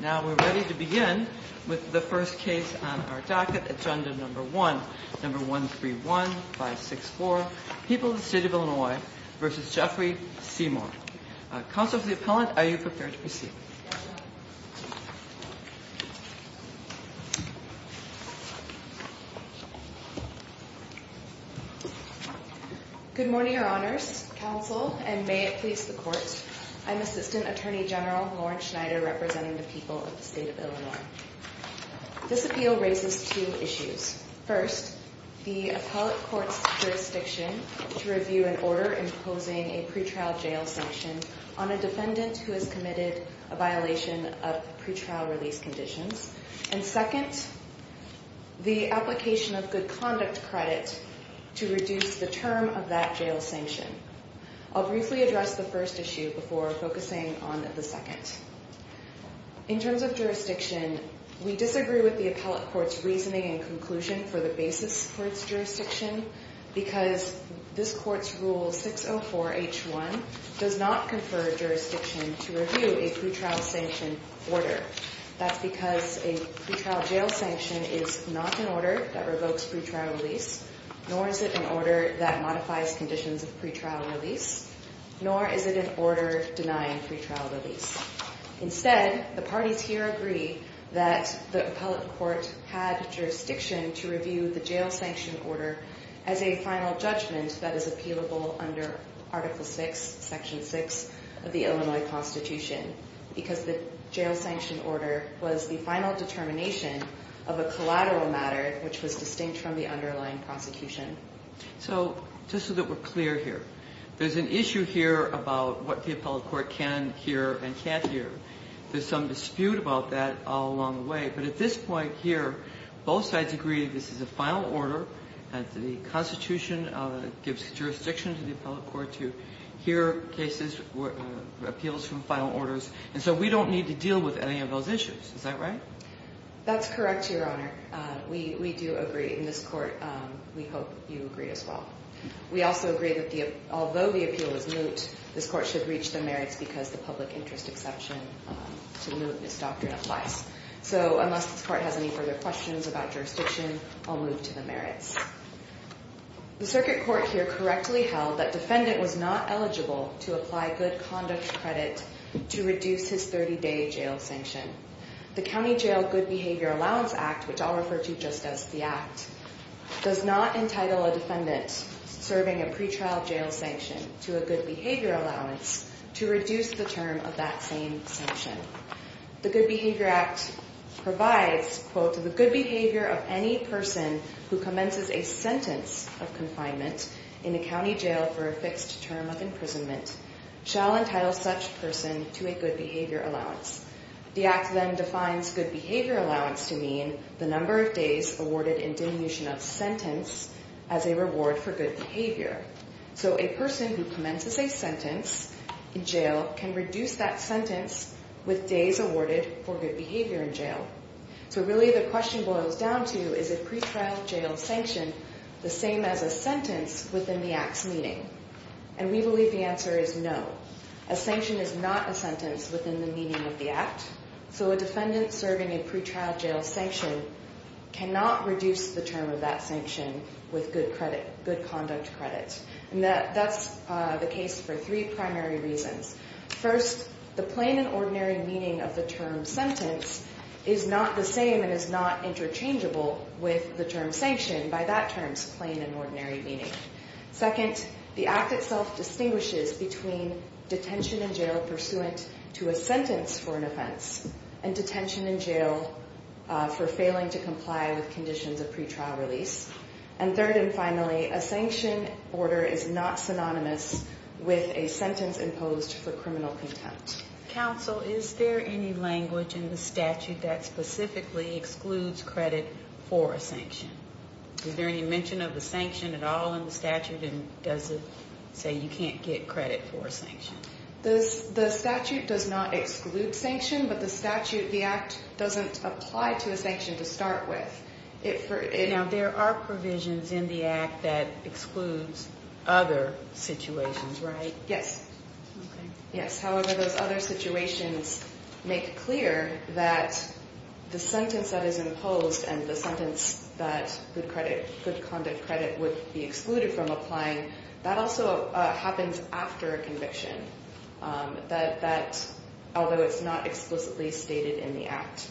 Now we're ready to begin with the first case on our docket, Agenda No. 1, No. 131564, People of the State of Illinois v. Jeffrey Seymour. Counsel for the Appellant, are you prepared to proceed? Good morning, Your Honors, Counsel, and may it please the Court, I'm Assistant Attorney General Lauren Schneider representing the People of the State of Illinois. This appeal raises two issues. First, the Appellate Court's jurisdiction to review an order imposing a pretrial jail sanction on a defendant who has committed a violation of pretrial release conditions. And second, the application of good conduct credit to reduce the term of that jail sanction. I'll briefly address the first issue before focusing on the second. In terms of jurisdiction, we disagree with the Appellate Court's reasoning and conclusion for the basis for its jurisdiction because this Court's Rule 604H1 does not confer jurisdiction to review a pretrial sanction order. That's because a pretrial jail sanction is not an order that revokes pretrial release, nor is it an order that modifies conditions of pretrial release, nor is it an order denying pretrial release. Instead, the parties here agree that the Appellate Court had jurisdiction to review the jail sanction order as a final judgment that is appealable under Article 6, Section 6 of the Illinois Constitution because the jail sanction order was the final determination of a collateral matter which was distinct from the underlying prosecution. So, just so that we're clear here, there's an issue here about what the Appellate Court can hear and can't hear. There's some dispute about that all along the way, but at this point here, both sides agree that this is a final order. The Constitution gives jurisdiction to the Appellate Court to hear cases, appeals from final orders, and so we don't need to deal with any of those issues. Is that right? That's correct, Your Honor. We do agree, and this Court, we hope you agree as well. We also agree that although the appeal is moot, this Court should reach the merits because the public interest exception to mootness doctrine applies. So, unless this Court has any further questions about jurisdiction, I'll move to the merits. The Circuit Court here correctly held that defendant was not eligible to apply good conduct credit to reduce his 30-day jail sanction. The County Jail Good Behavior Allowance Act, which I'll refer to just as the Act, does not entitle a defendant serving a pretrial jail sanction to a good behavior allowance to reduce the term of that same sanction. The Good Behavior Act provides, quote, the good behavior of any person who commences a sentence of confinement in a county jail for a fixed term of imprisonment shall entitle such person to a good behavior allowance. The Act then defines good behavior allowance to mean the number of days awarded in diminution of sentence as a reward for good behavior. So, a person who commences a sentence in jail can reduce that sentence with days awarded for good behavior in jail. So, really the question boils down to, is a pretrial jail sanction the same as a sentence within the Act's meaning? And we believe the answer is no. A sanction is not a sentence within the meaning of the Act. So, a defendant serving a pretrial jail sanction cannot reduce the term of that sanction with good credit, good conduct credit. And that's the case for three primary reasons. First, the plain and ordinary meaning of the term sentence is not the same and is not interchangeable with the term sanction by that term's plain and ordinary meaning. Second, the Act itself distinguishes between detention in jail pursuant to a sentence for an offense and detention in jail for failing to comply with conditions of pretrial release. And third and finally, a sanction order is not synonymous with a sentence imposed for criminal contempt. Counsel, is there any language in the statute that specifically excludes credit for a sanction? Is there any mention of a sanction at all in the statute? And does it say you can't get credit for a sanction? The statute does not exclude sanction, but the statute, the Act doesn't apply to a sanction to start with. Now, there are provisions in the Act that excludes other situations, right? Yes. Okay. Yes, however, those other situations make clear that the sentence that is imposed and the sentence that good credit, good conduct credit would be excluded from applying, that also happens after a conviction, that although it's not explicitly stated in the Act.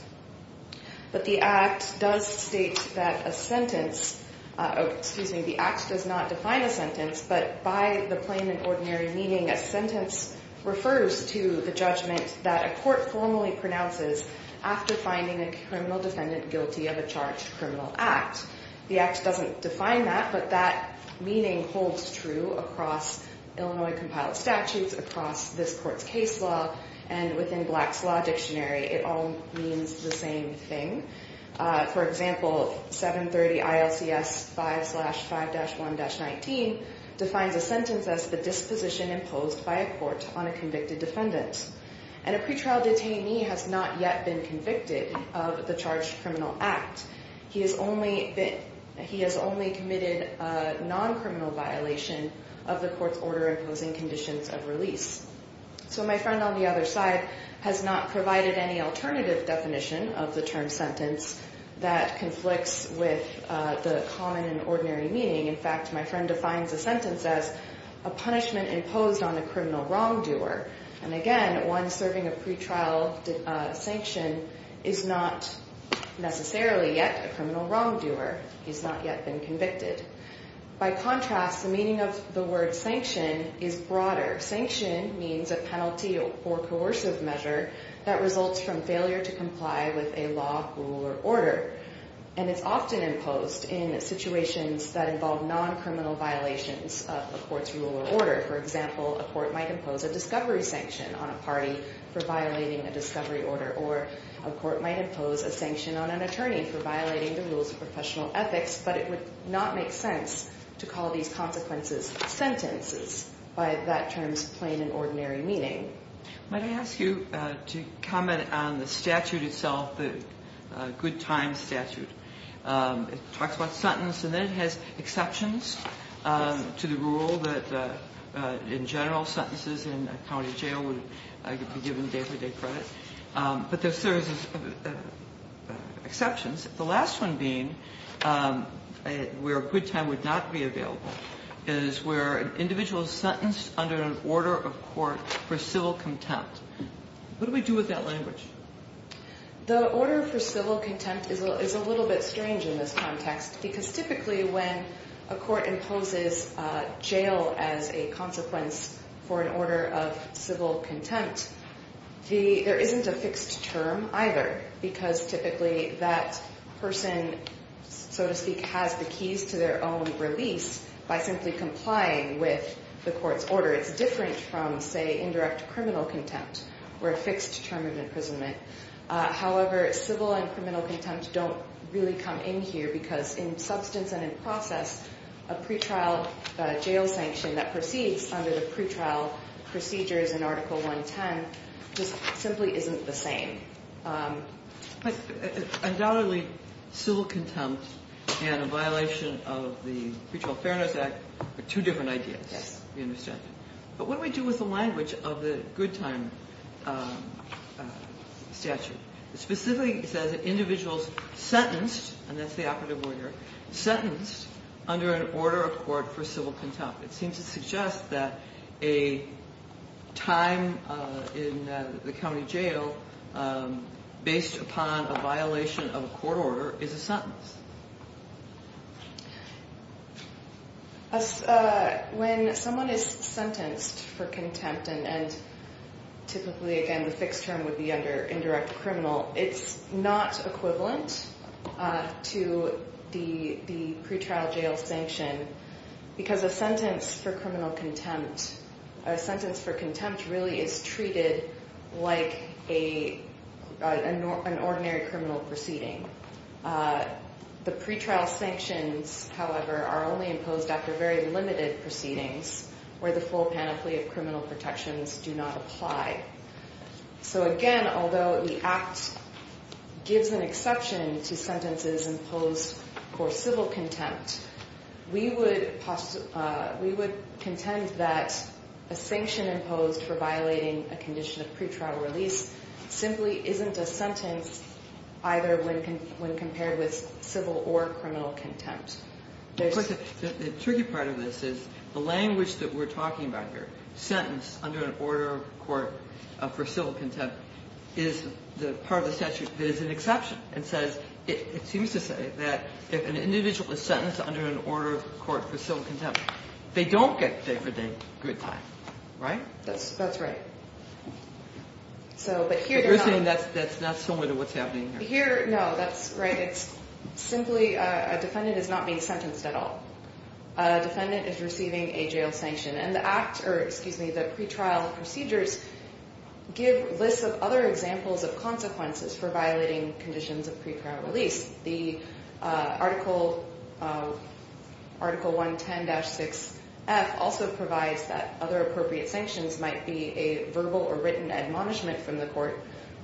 But the Act does state that a sentence, excuse me, the Act does not define a sentence, but by the plain and ordinary meaning, a sentence refers to the judgment that a court formally pronounces after finding a criminal defendant guilty of a charged criminal act. The Act doesn't define that, but that meaning holds true across Illinois compiled statutes, across this court's case law, and within Black's Law Dictionary. It all means the same thing. For example, 730 ILCS 5-5-1-19 defines a sentence as the disposition imposed by a court on a convicted defendant. And a pretrial detainee has not yet been convicted of the charged criminal act. He has only committed a non-criminal violation of the court's order imposing conditions of release. So my friend on the other side has not provided any alternative definition of the term sentence that conflicts with the common and ordinary meaning. In fact, my friend defines a sentence as a punishment imposed on a criminal wrongdoer. And again, one serving a pretrial sanction is not necessarily yet a criminal wrongdoer. He's not yet been convicted. By contrast, the meaning of the word sanction is broader. Sanction means a penalty or coercive measure that results from failure to comply with a law, rule, or order. And it's often imposed in situations that involve non-criminal violations of a court's rule or order. For example, a court might impose a discovery sanction on a party for violating a discovery order. Or a court might impose a sanction on an attorney for violating the rules of professional ethics. But it would not make sense to call these consequences sentences by that term's plain and ordinary meaning. Might I ask you to comment on the statute itself, the good times statute. It talks about sentence and then it has exceptions to the rule that in general sentences in a county jail would be given day for day credit. But there are certain exceptions. The last one being, where a good time would not be available, is where an individual is sentenced under an order of court for civil contempt. What do we do with that language? The order for civil contempt is a little bit strange in this context because typically when a court imposes jail as a consequence for an order of civil contempt, there isn't a fixed term either because typically that person, so to speak, has the keys to their own release by simply complying with the court's order. It's different from, say, indirect criminal contempt, where a fixed term of imprisonment. However, civil and criminal contempt don't really come in here because in substance and in process, a pretrial jail sanction that proceeds under the pretrial procedures in Article 110 just simply isn't the same. But undoubtedly civil contempt and a violation of the Pretrial Fairness Act are two different ideas. Yes. You understand? But what do we do with the language of the good time statute? It specifically says that individuals sentenced, and that's the operative order, sentenced under an order of court for civil contempt. It seems to suggest that a time in the county jail based upon a violation of a court order is a sentence. When someone is sentenced for contempt and typically, again, the fixed term would be under indirect criminal, it's not equivalent to the pretrial jail sanction because a sentence for criminal contempt, really is treated like an ordinary criminal proceeding. The pretrial sanctions, however, are only imposed after very limited proceedings where the full panoply of criminal protections do not apply. So again, although the Act gives an exception to sentences imposed for civil contempt, we would contend that a sanction imposed for violating a condition of pretrial release simply isn't a sentence either when compared with civil or criminal contempt. The tricky part of this is the language that we're talking about here, sentence under an order of court for civil contempt, is part of the statute that is an exception. It seems to say that if an individual is sentenced under an order of court for civil contempt, they don't get day for day good time. Right? That's right. But you're saying that's not similar to what's happening here. No, that's right. It's simply a defendant is not being sentenced at all. A defendant is receiving a jail sanction. And the Act, or excuse me, the pretrial procedures give lists of other examples of consequences for violating conditions of pretrial release. The Article 110-6F also provides that other appropriate sanctions might be a verbal or written admonishment from the court.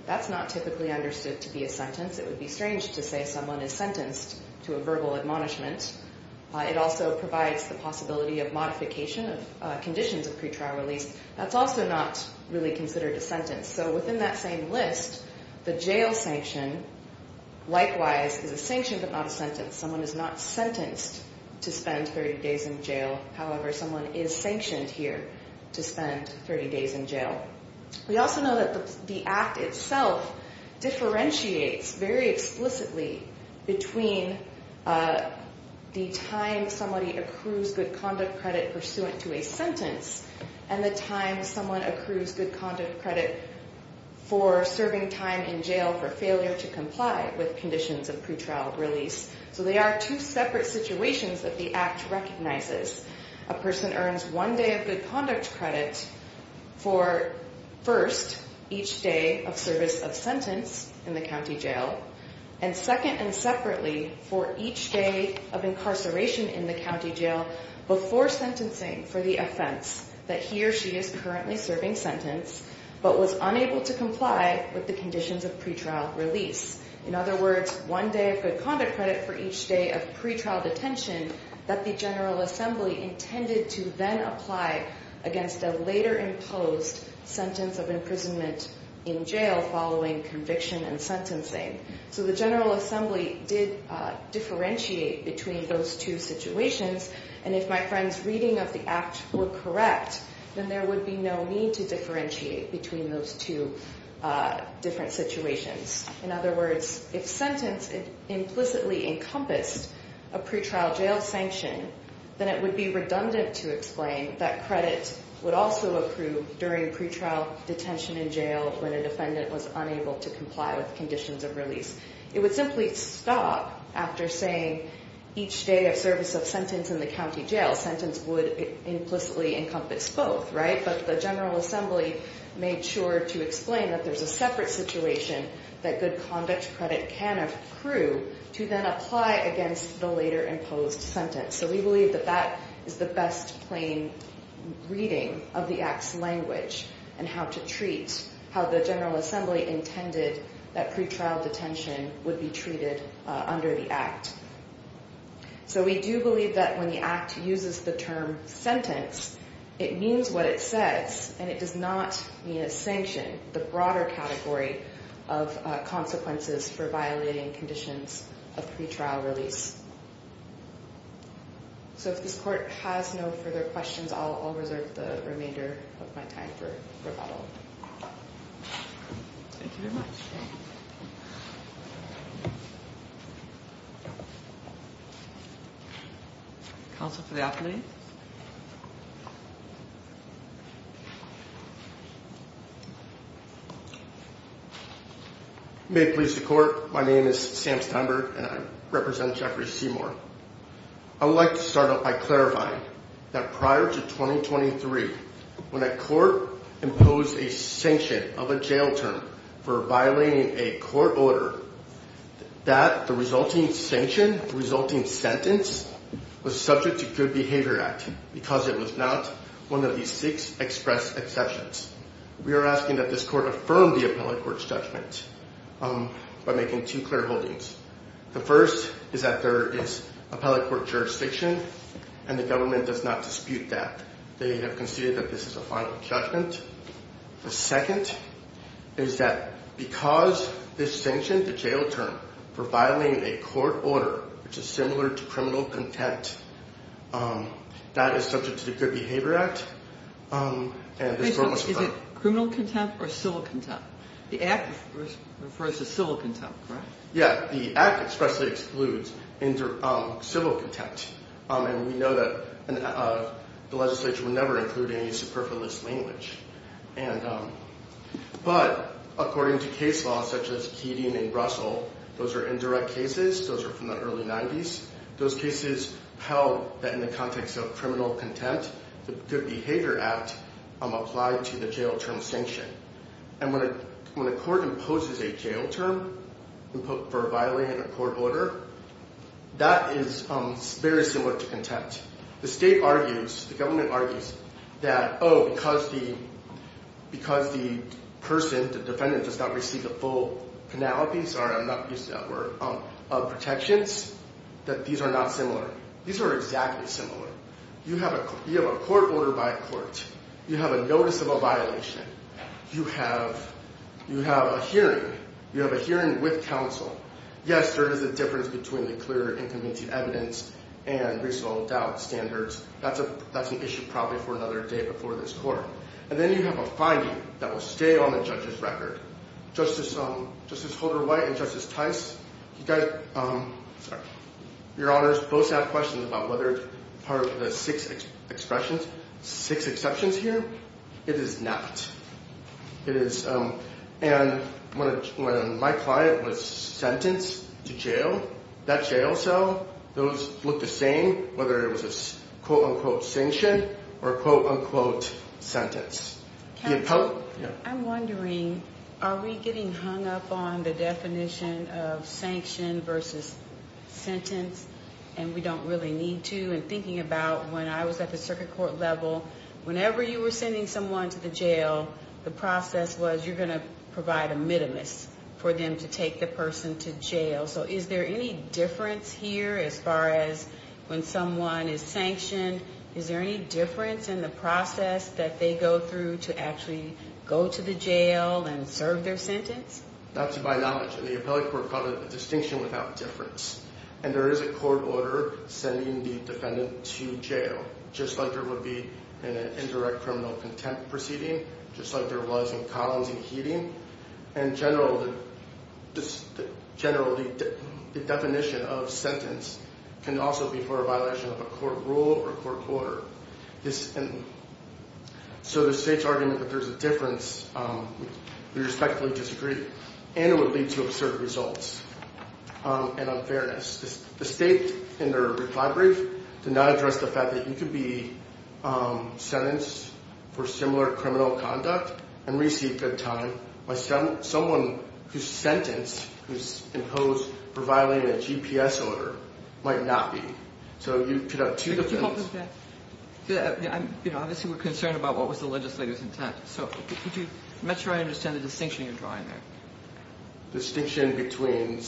That's not typically understood to be a sentence. It would be strange to say someone is sentenced to a verbal admonishment. It also provides the possibility of modification of conditions of pretrial release. That's also not really considered a sentence. So within that same list, the jail sanction, likewise, is a sanction but not a sentence. Someone is not sentenced to spend 30 days in jail. However, someone is sanctioned here to spend 30 days in jail. We also know that the Act itself differentiates very explicitly between the time somebody accrues good conduct credit pursuant to a sentence and the time someone accrues good conduct credit for serving time in jail for failure to comply with conditions of pretrial release. So they are two separate situations that the Act recognizes. A person earns one day of good conduct credit for, first, each day of service of sentence in the county jail, and second and separately, for each day of incarceration in the county jail before sentencing for the offense that he or she is currently serving sentence but was unable to comply with the conditions of pretrial release. In other words, one day of good conduct credit for each day of pretrial detention that the General Assembly intended to then apply against a later imposed sentence of imprisonment in jail following conviction and sentencing. So the General Assembly did differentiate between those two situations. And if my friend's reading of the Act were correct, then there would be no need to differentiate between those two different situations. In other words, if sentence implicitly encompassed a pretrial jail sanction, then it would be redundant to explain that credit would also accrue during pretrial detention in jail when a defendant was unable to comply with conditions of release. It would simply stop after saying each day of service of sentence in the county jail. Sentence would implicitly encompass both, right? But the General Assembly made sure to explain that there's a separate situation that good conduct credit can accrue to then apply against the later imposed sentence. So we believe that that is the best plain reading of the Act's language and how to treat, how the General Assembly intended that pretrial detention would be treated under the Act. So we do believe that when the Act uses the term sentence, it means what it says, and it does not mean a sanction, the broader category of consequences for violating conditions of pretrial release. So if this court has no further questions, I'll reserve the remainder of my time for rebuttal. Thank you very much. Counsel for the appellate. May it please the court, my name is Sam Steinberg and I represent Jeffrey Seymour. I would like to start off by clarifying that prior to 2023, when a court imposed a sanction of a jail term for violating a court order, that the resulting sanction, resulting sentence was subject to Good Behavior Act because it was not one of these six express exceptions. We are asking that this court affirm the appellate court's judgment by making two clear holdings. The first is that there is appellate court jurisdiction and the government does not dispute that. They have conceded that this is a final judgment. The second is that because this sanction, the jail term, for violating a court order, which is similar to criminal contempt, that is subject to the Good Behavior Act. Is it criminal contempt or civil contempt? The Act refers to civil contempt, correct? Yeah, the Act expressly excludes civil contempt. And we know that the legislature would never include any superfluous language. But according to case law such as Keating and Russell, those are indirect cases, those are from the early 90s. Those cases held that in the context of criminal contempt, the Good Behavior Act applied to the jail term sanction. And when a court imposes a jail term for violating a court order, that is very similar to contempt. The state argues, the government argues that, oh, because the person, the defendant, does not receive the full penalty, sorry, I'm not used to that word, of protections, that these are not similar. These are exactly similar. You have a court order by court. You have a notice of a violation. You have a hearing. You have a hearing with counsel. Yes, there is a difference between the clear and convincing evidence and reasonable doubt standards. That's an issue probably for another day before this court. And then you have a finding that will stay on the judge's record. Justice Holder-White and Justice Tice, your honors, both have questions about whether part of the six exceptions here, it is not. And when my client was sentenced to jail, that jail cell, those look the same, whether it was a quote unquote sanction or a quote unquote sentence. I'm wondering, are we getting hung up on the definition of sanction versus sentence, and we don't really need to? And thinking about when I was at the circuit court level, whenever you were sending someone to the jail, the process was you're going to provide a minimus for them to take the person to jail. So is there any difference here as far as when someone is sanctioned? Is there any difference in the process that they go through to actually go to the jail and serve their sentence? Not to my knowledge, and the appellate court called it a distinction without difference. And there is a court order sending the defendant to jail, just like there would be in an indirect criminal contempt proceeding, just like there was in Collins and Heating. In general, the definition of sentence can also be for a violation of a court rule or a court order. So the state's argument that there's a difference, we respectfully disagree, and it would lead to absurd results and unfairness. The state, in their reply brief, did not address the fact that you could be sentenced for similar criminal conduct and receive good time by someone who's sentenced, who's imposed for violating a GPS order, might not be. So you could have two differences. Obviously, we're concerned about what was the legislator's intent. So could you make sure I understand the distinction you're drawing there? The distinction between...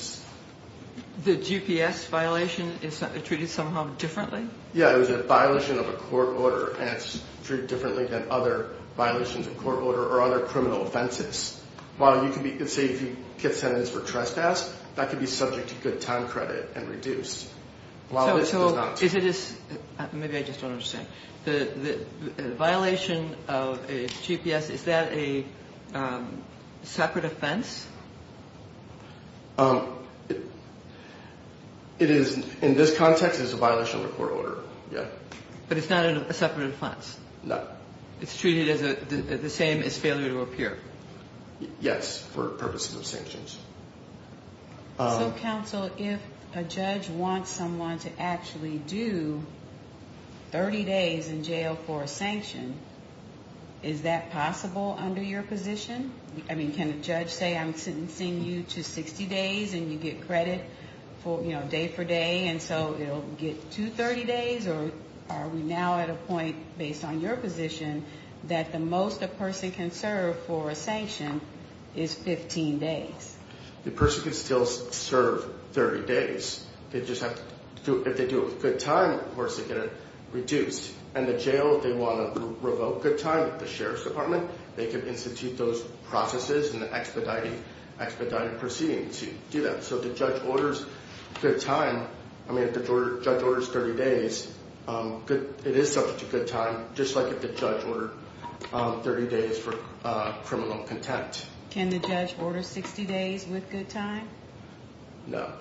The GPS violation is treated somehow differently? Yeah, it was a violation of a court order, and it's treated differently than other violations of court order or other criminal offenses. While you could be, say, if you get sentenced for trespass, that could be subject to good time credit and reduced. Maybe I just don't understand. The violation of a GPS, is that a separate offense? In this context, it's a violation of a court order, yeah. But it's not a separate offense? No. It's treated the same as failure to appear? Yes, for purposes of sanctions. So, counsel, if a judge wants someone to actually do 30 days in jail for a sanction, is that possible under your position? I mean, can a judge say, I'm sentencing you to 60 days, and you get credit day for day, and so it'll get to 30 days? Or are we now at a point, based on your position, that the most a person can serve for a sanction is 15 days? The person can still serve 30 days. They just have to... If they do it with good time, of course, they get it reduced. And the jail, if they want to revoke good time at the sheriff's department, they can institute those processes and expedited proceedings to do that. So if the judge orders good time, I mean, if the judge orders 30 days, it is subject to good time, just like if the judge ordered 30 days for criminal contempt. Can the judge order 60 days with good time? No.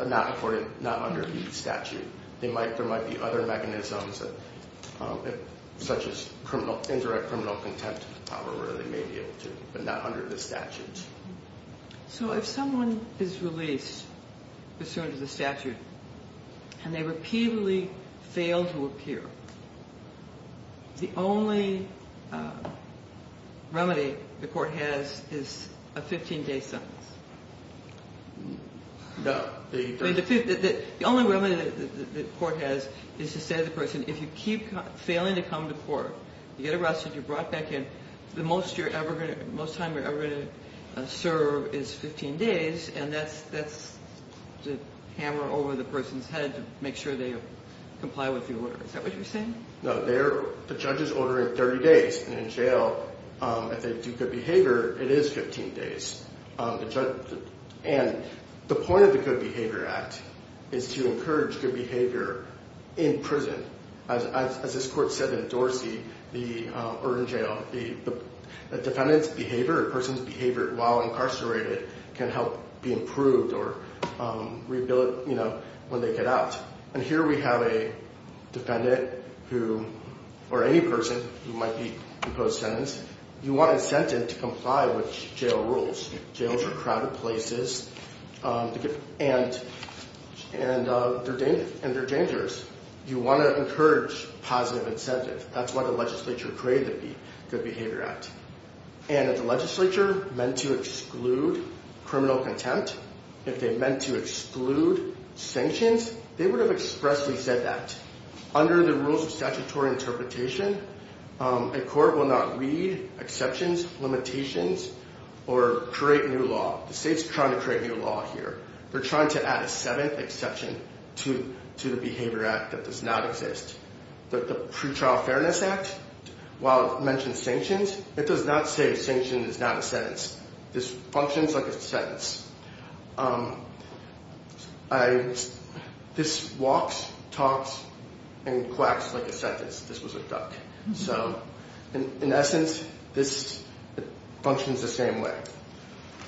Not under the statute. So if someone is released pursuant to the statute, and they repeatedly fail to appear, the only remedy the court has is a 15-day sentence? No. The only remedy the court has is to say to the person, if you keep failing to come to court, you get arrested, you're brought back in, the most time you're ever going to serve is 15 days, and that's to hammer over the person's head to make sure they comply with the order. Is that what you're saying? No. The judge is ordering 30 days, and in jail, if they do good behavior, it is 15 days. And the point of the Good Behavior Act is to encourage good behavior in prison. As this court said in Dorsey, or in jail, the defendant's behavior or a person's behavior while incarcerated can help be improved or, you know, when they get out. And here we have a defendant who, or any person who might be in post-sentence, you want incentive to comply with jail rules. Jails are crowded places, and they're dangerous. You want to encourage positive incentive. That's why the legislature created the Good Behavior Act. And if the legislature meant to exclude criminal contempt, if they meant to exclude sanctions, they would have expressly said that. Under the rules of statutory interpretation, a court will not read exceptions, limitations, or create new law. The state's trying to create new law here. They're trying to add a seventh exception to the Behavior Act that does not exist. The Pretrial Fairness Act, while it mentions sanctions, it does not say sanctions is not a sentence. This functions like a sentence. This walks, talks, and quacks like a sentence. This was a duck. So, in essence, this functions the same way.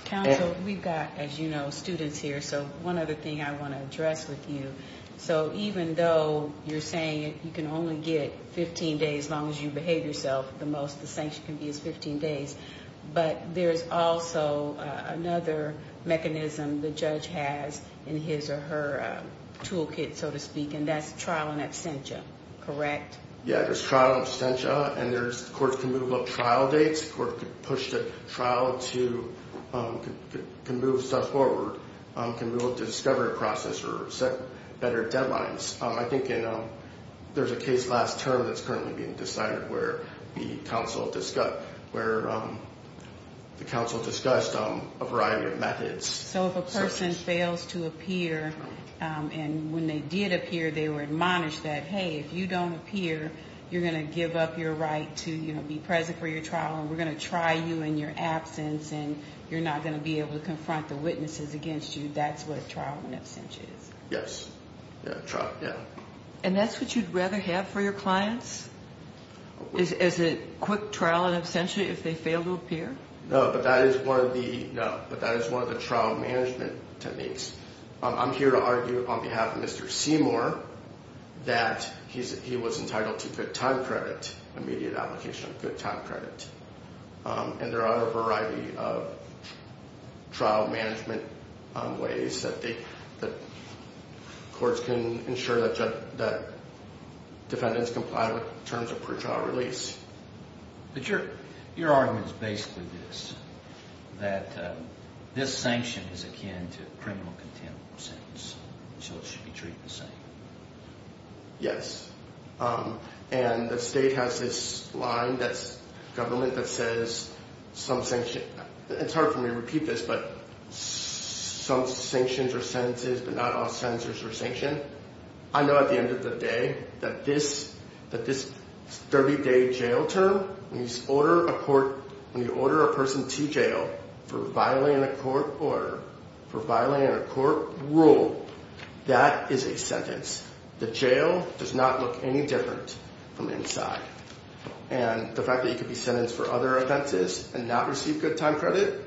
Counsel, we've got, as you know, students here, so one other thing I want to address with you. So, even though you're saying you can only get 15 days as long as you behave yourself the most, the sanction can be as 15 days, but there's also another mechanism the judge has in his or her toolkit, so to speak, and that's trial and absentia, correct? Yeah, there's trial and absentia, and courts can move up trial dates. The court can push the trial to move stuff forward, can move up the discovery process or set better deadlines. I think there's a case last term that's currently being decided where the counsel discussed a variety of methods. So, if a person fails to appear, and when they did appear, they were admonished that, hey, if you don't appear, you're going to give up your right to be present for your trial, and we're going to try you in your absence, and you're not going to be able to confront the witnesses against you. That's what trial and absentia is. Yes, yeah, trial, yeah. And that's what you'd rather have for your clients, is a quick trial and absentia if they fail to appear? No, but that is one of the trial management techniques. I'm here to argue on behalf of Mr. Seymour that he was entitled to good time credit, immediate application of good time credit, and there are a variety of trial management ways that courts can ensure that defendants comply with terms of pretrial release. But your argument is basically this, that this sanction is akin to criminal contempt of sentence, so it should be treated the same. Yes, and the state has this line, that's government, that says some sanction. It's hard for me to repeat this, but some sanctions are sentences, but not all sentences are sanction. I know at the end of the day that this 30-day jail term, when you order a person to jail for violating a court order, for violating a court rule, that is a sentence. The jail does not look any different from inside. And the fact that you could be sentenced for other offenses and not receive good time credit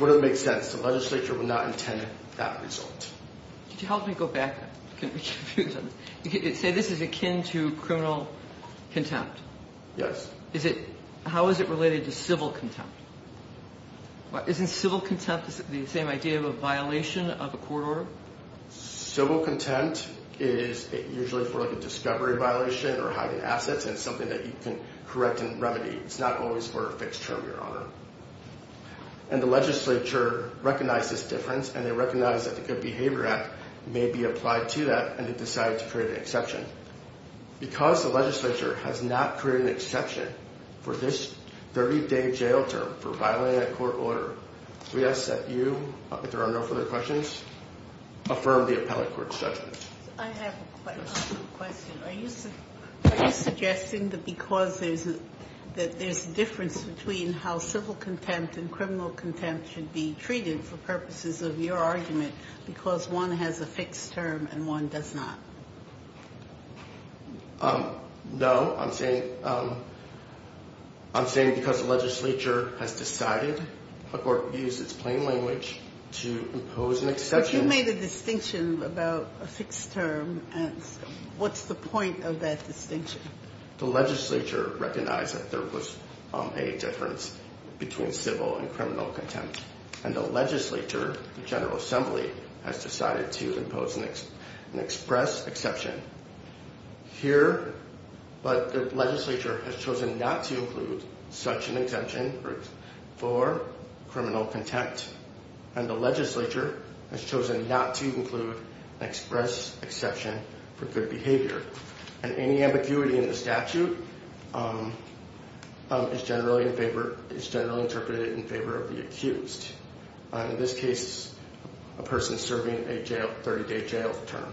wouldn't make sense. The legislature would not intend that result. Could you help me go back? Say this is akin to criminal contempt. Yes. How is it related to civil contempt? Isn't civil contempt the same idea of a violation of a court order? Civil contempt is usually for a discovery violation or hiding assets, and it's something that you can correct and remedy. It's not always for a fixed term, Your Honor. And the legislature recognized this difference, and they recognized that the Good Behavior Act may be applied to that, and they decided to create an exception. Because the legislature has not created an exception for this 30-day jail term for violating a court order, we ask that you, if there are no further questions, affirm the appellate court's judgment. I have a question. Are you suggesting that because there's a difference between how civil contempt and criminal contempt should be treated for purposes of your argument because one has a fixed term and one does not? No. I'm saying because the legislature has decided or used its plain language to impose an exception. You made a distinction about a fixed term. What's the point of that distinction? The legislature recognized that there was a difference between civil and criminal contempt, and the legislature, the General Assembly, has decided to impose an express exception. Here, the legislature has chosen not to include such an exemption for criminal contempt, and the legislature has chosen not to include an express exception for good behavior. And any ambiguity in the statute is generally interpreted in favor of the accused, in this case, a person serving a 30-day jail term.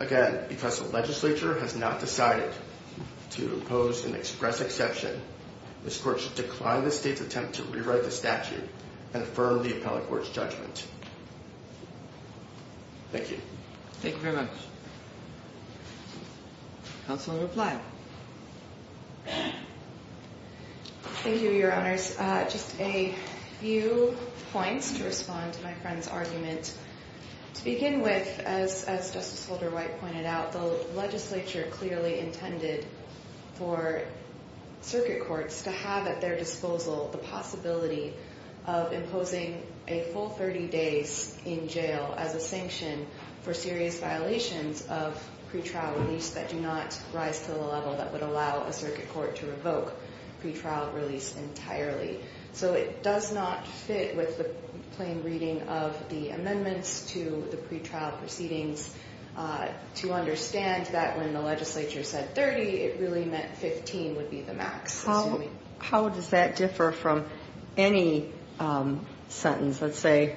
Again, because the legislature has not decided to impose an express exception, this court should decline the state's attempt to rewrite the statute and affirm the appellate court's judgment. Thank you. Thank you very much. Counsel in reply. Thank you, Your Honors. Just a few points to respond to my friend's argument. To begin with, as Justice Holder-White pointed out, the legislature clearly intended for circuit courts to have at their disposal the possibility of imposing a full 30 days in jail as a sanction for serious violations of pretrial release that do not rise to the level that would allow a circuit court to revoke pretrial release entirely. So it does not fit with the plain reading of the amendments to the pretrial proceedings. To understand that when the legislature said 30, it really meant 15 would be the max. How does that differ from any sentence? Let's say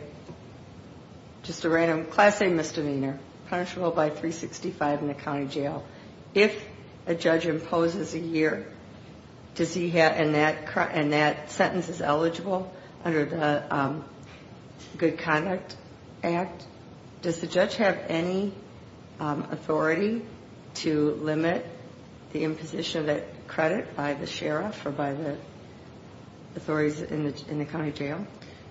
just a random Class A misdemeanor, punishable by 365 in a county jail. If a judge imposes a year, and that sentence is eligible under the Good Conduct Act, does the judge have any authority to limit the imposition of that credit by the sheriff or by the authorities in the county jail?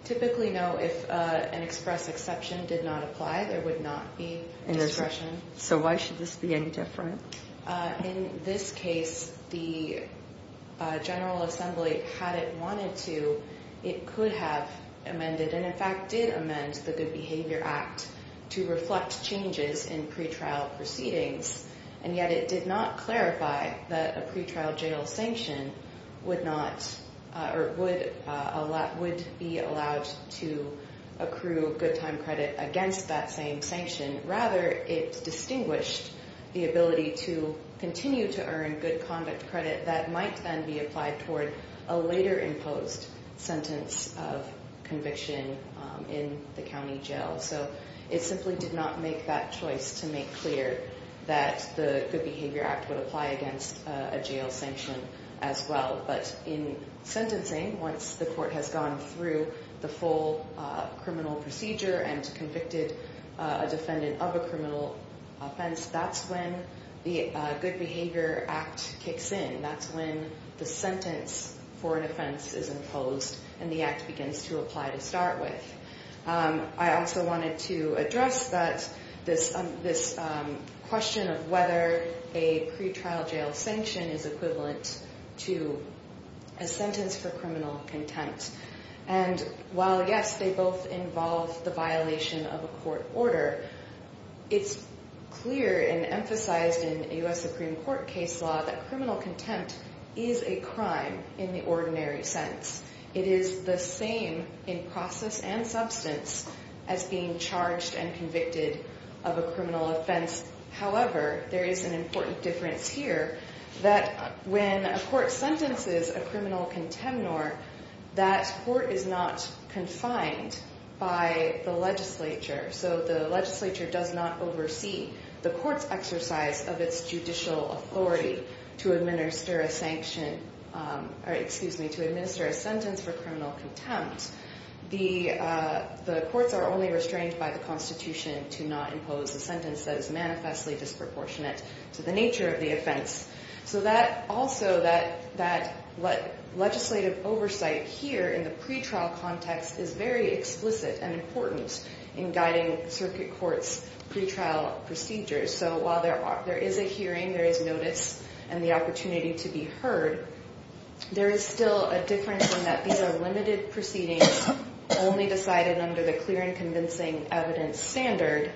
Typically, no. If an express exception did not apply, there would not be discretion. So why should this be any different? In this case, the General Assembly had it wanted to. It could have amended, and in fact did amend, the Good Behavior Act to reflect changes in pretrial proceedings. And yet it did not clarify that a pretrial jail sanction would be allowed to accrue good time credit against that same sanction. Rather, it distinguished the ability to continue to earn good conduct credit that might then be applied toward a later imposed sentence of conviction in the county jail. So it simply did not make that choice to make clear that the Good Behavior Act would apply against a jail sanction as well. But in sentencing, once the court has gone through the full criminal procedure and convicted a defendant of a criminal offense, that's when the Good Behavior Act kicks in. That's when the sentence for an offense is imposed and the act begins to apply to start with. I also wanted to address this question of whether a pretrial jail sanction is equivalent to a sentence for criminal contempt. And while, yes, they both involve the violation of a court order, it's clear and emphasized in U.S. Supreme Court case law that criminal contempt is a crime in the ordinary sense. It is the same in process and substance as being charged and convicted of a criminal offense. However, there is an important difference here that when a court sentences a criminal contemnor, that court is not confined by the legislature. So the legislature does not oversee the court's exercise of its judicial authority to administer a sanction, or excuse me, to administer a sentence for criminal contempt. The courts are only restrained by the Constitution to not impose a sentence that is manifestly disproportionate to the nature of the offense. So that also, that legislative oversight here in the pretrial context is very explicit and important in guiding circuit courts' pretrial procedures. So while there is a hearing, there is notice and the opportunity to be heard, there is still a difference in that these are limited proceedings, only decided under the clear and convincing evidence standard,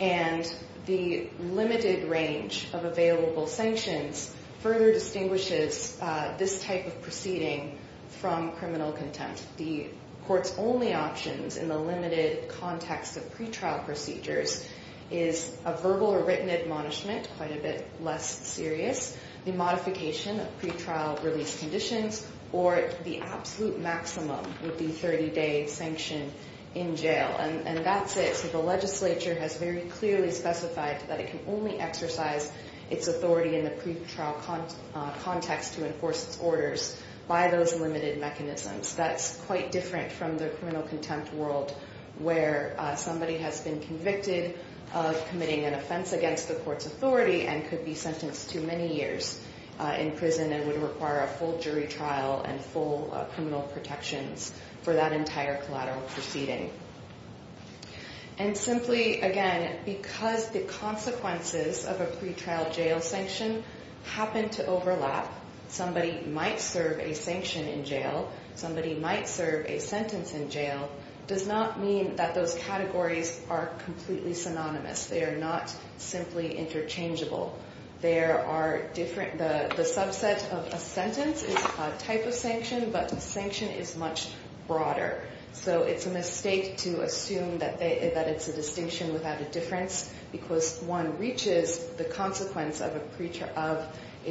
and the limited range of available sanctions further distinguishes this type of proceeding from criminal contempt. The court's only options in the limited context of pretrial procedures is a verbal or written admonishment, quite a bit less serious, the modification of pretrial release conditions, or the absolute maximum would be 30-day sanction in jail. And that's it. So the legislature has very clearly specified that it can only exercise its authority in the pretrial context to enforce its orders by those limited mechanisms. That's quite different from the criminal contempt world where somebody has been convicted of committing an offense against the court's authority and could be sentenced to many years in prison and would require a full jury trial and full criminal protections for that entire collateral proceeding. And simply, again, because the consequences of a pretrial jail sanction happen to overlap, somebody might serve a sanction in jail, somebody might serve a sentence in jail, does not mean that those categories are completely synonymous. They are not simply interchangeable. The subset of a sentence is a type of sanction, but a sanction is much broader. So it's a mistake to assume that it's a distinction without a difference because one reaches the consequence of a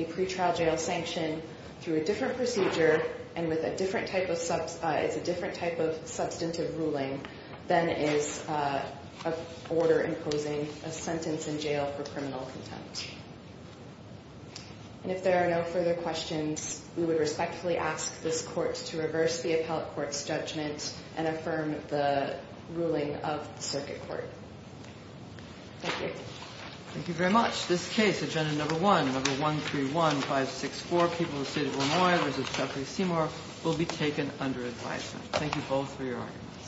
pretrial jail sanction through a different procedure and it's a different type of substantive ruling than is an order imposing a sentence in jail for criminal contempt. And if there are no further questions, we would respectfully ask this court to reverse the appellate court's judgment and affirm the ruling of the circuit court. Thank you. Thank you very much. This case, Agenda No. 1, No. 131564, People of the State of Illinois v. Jeffrey Seymour, will be taken under advisement. Thank you both for your arguments.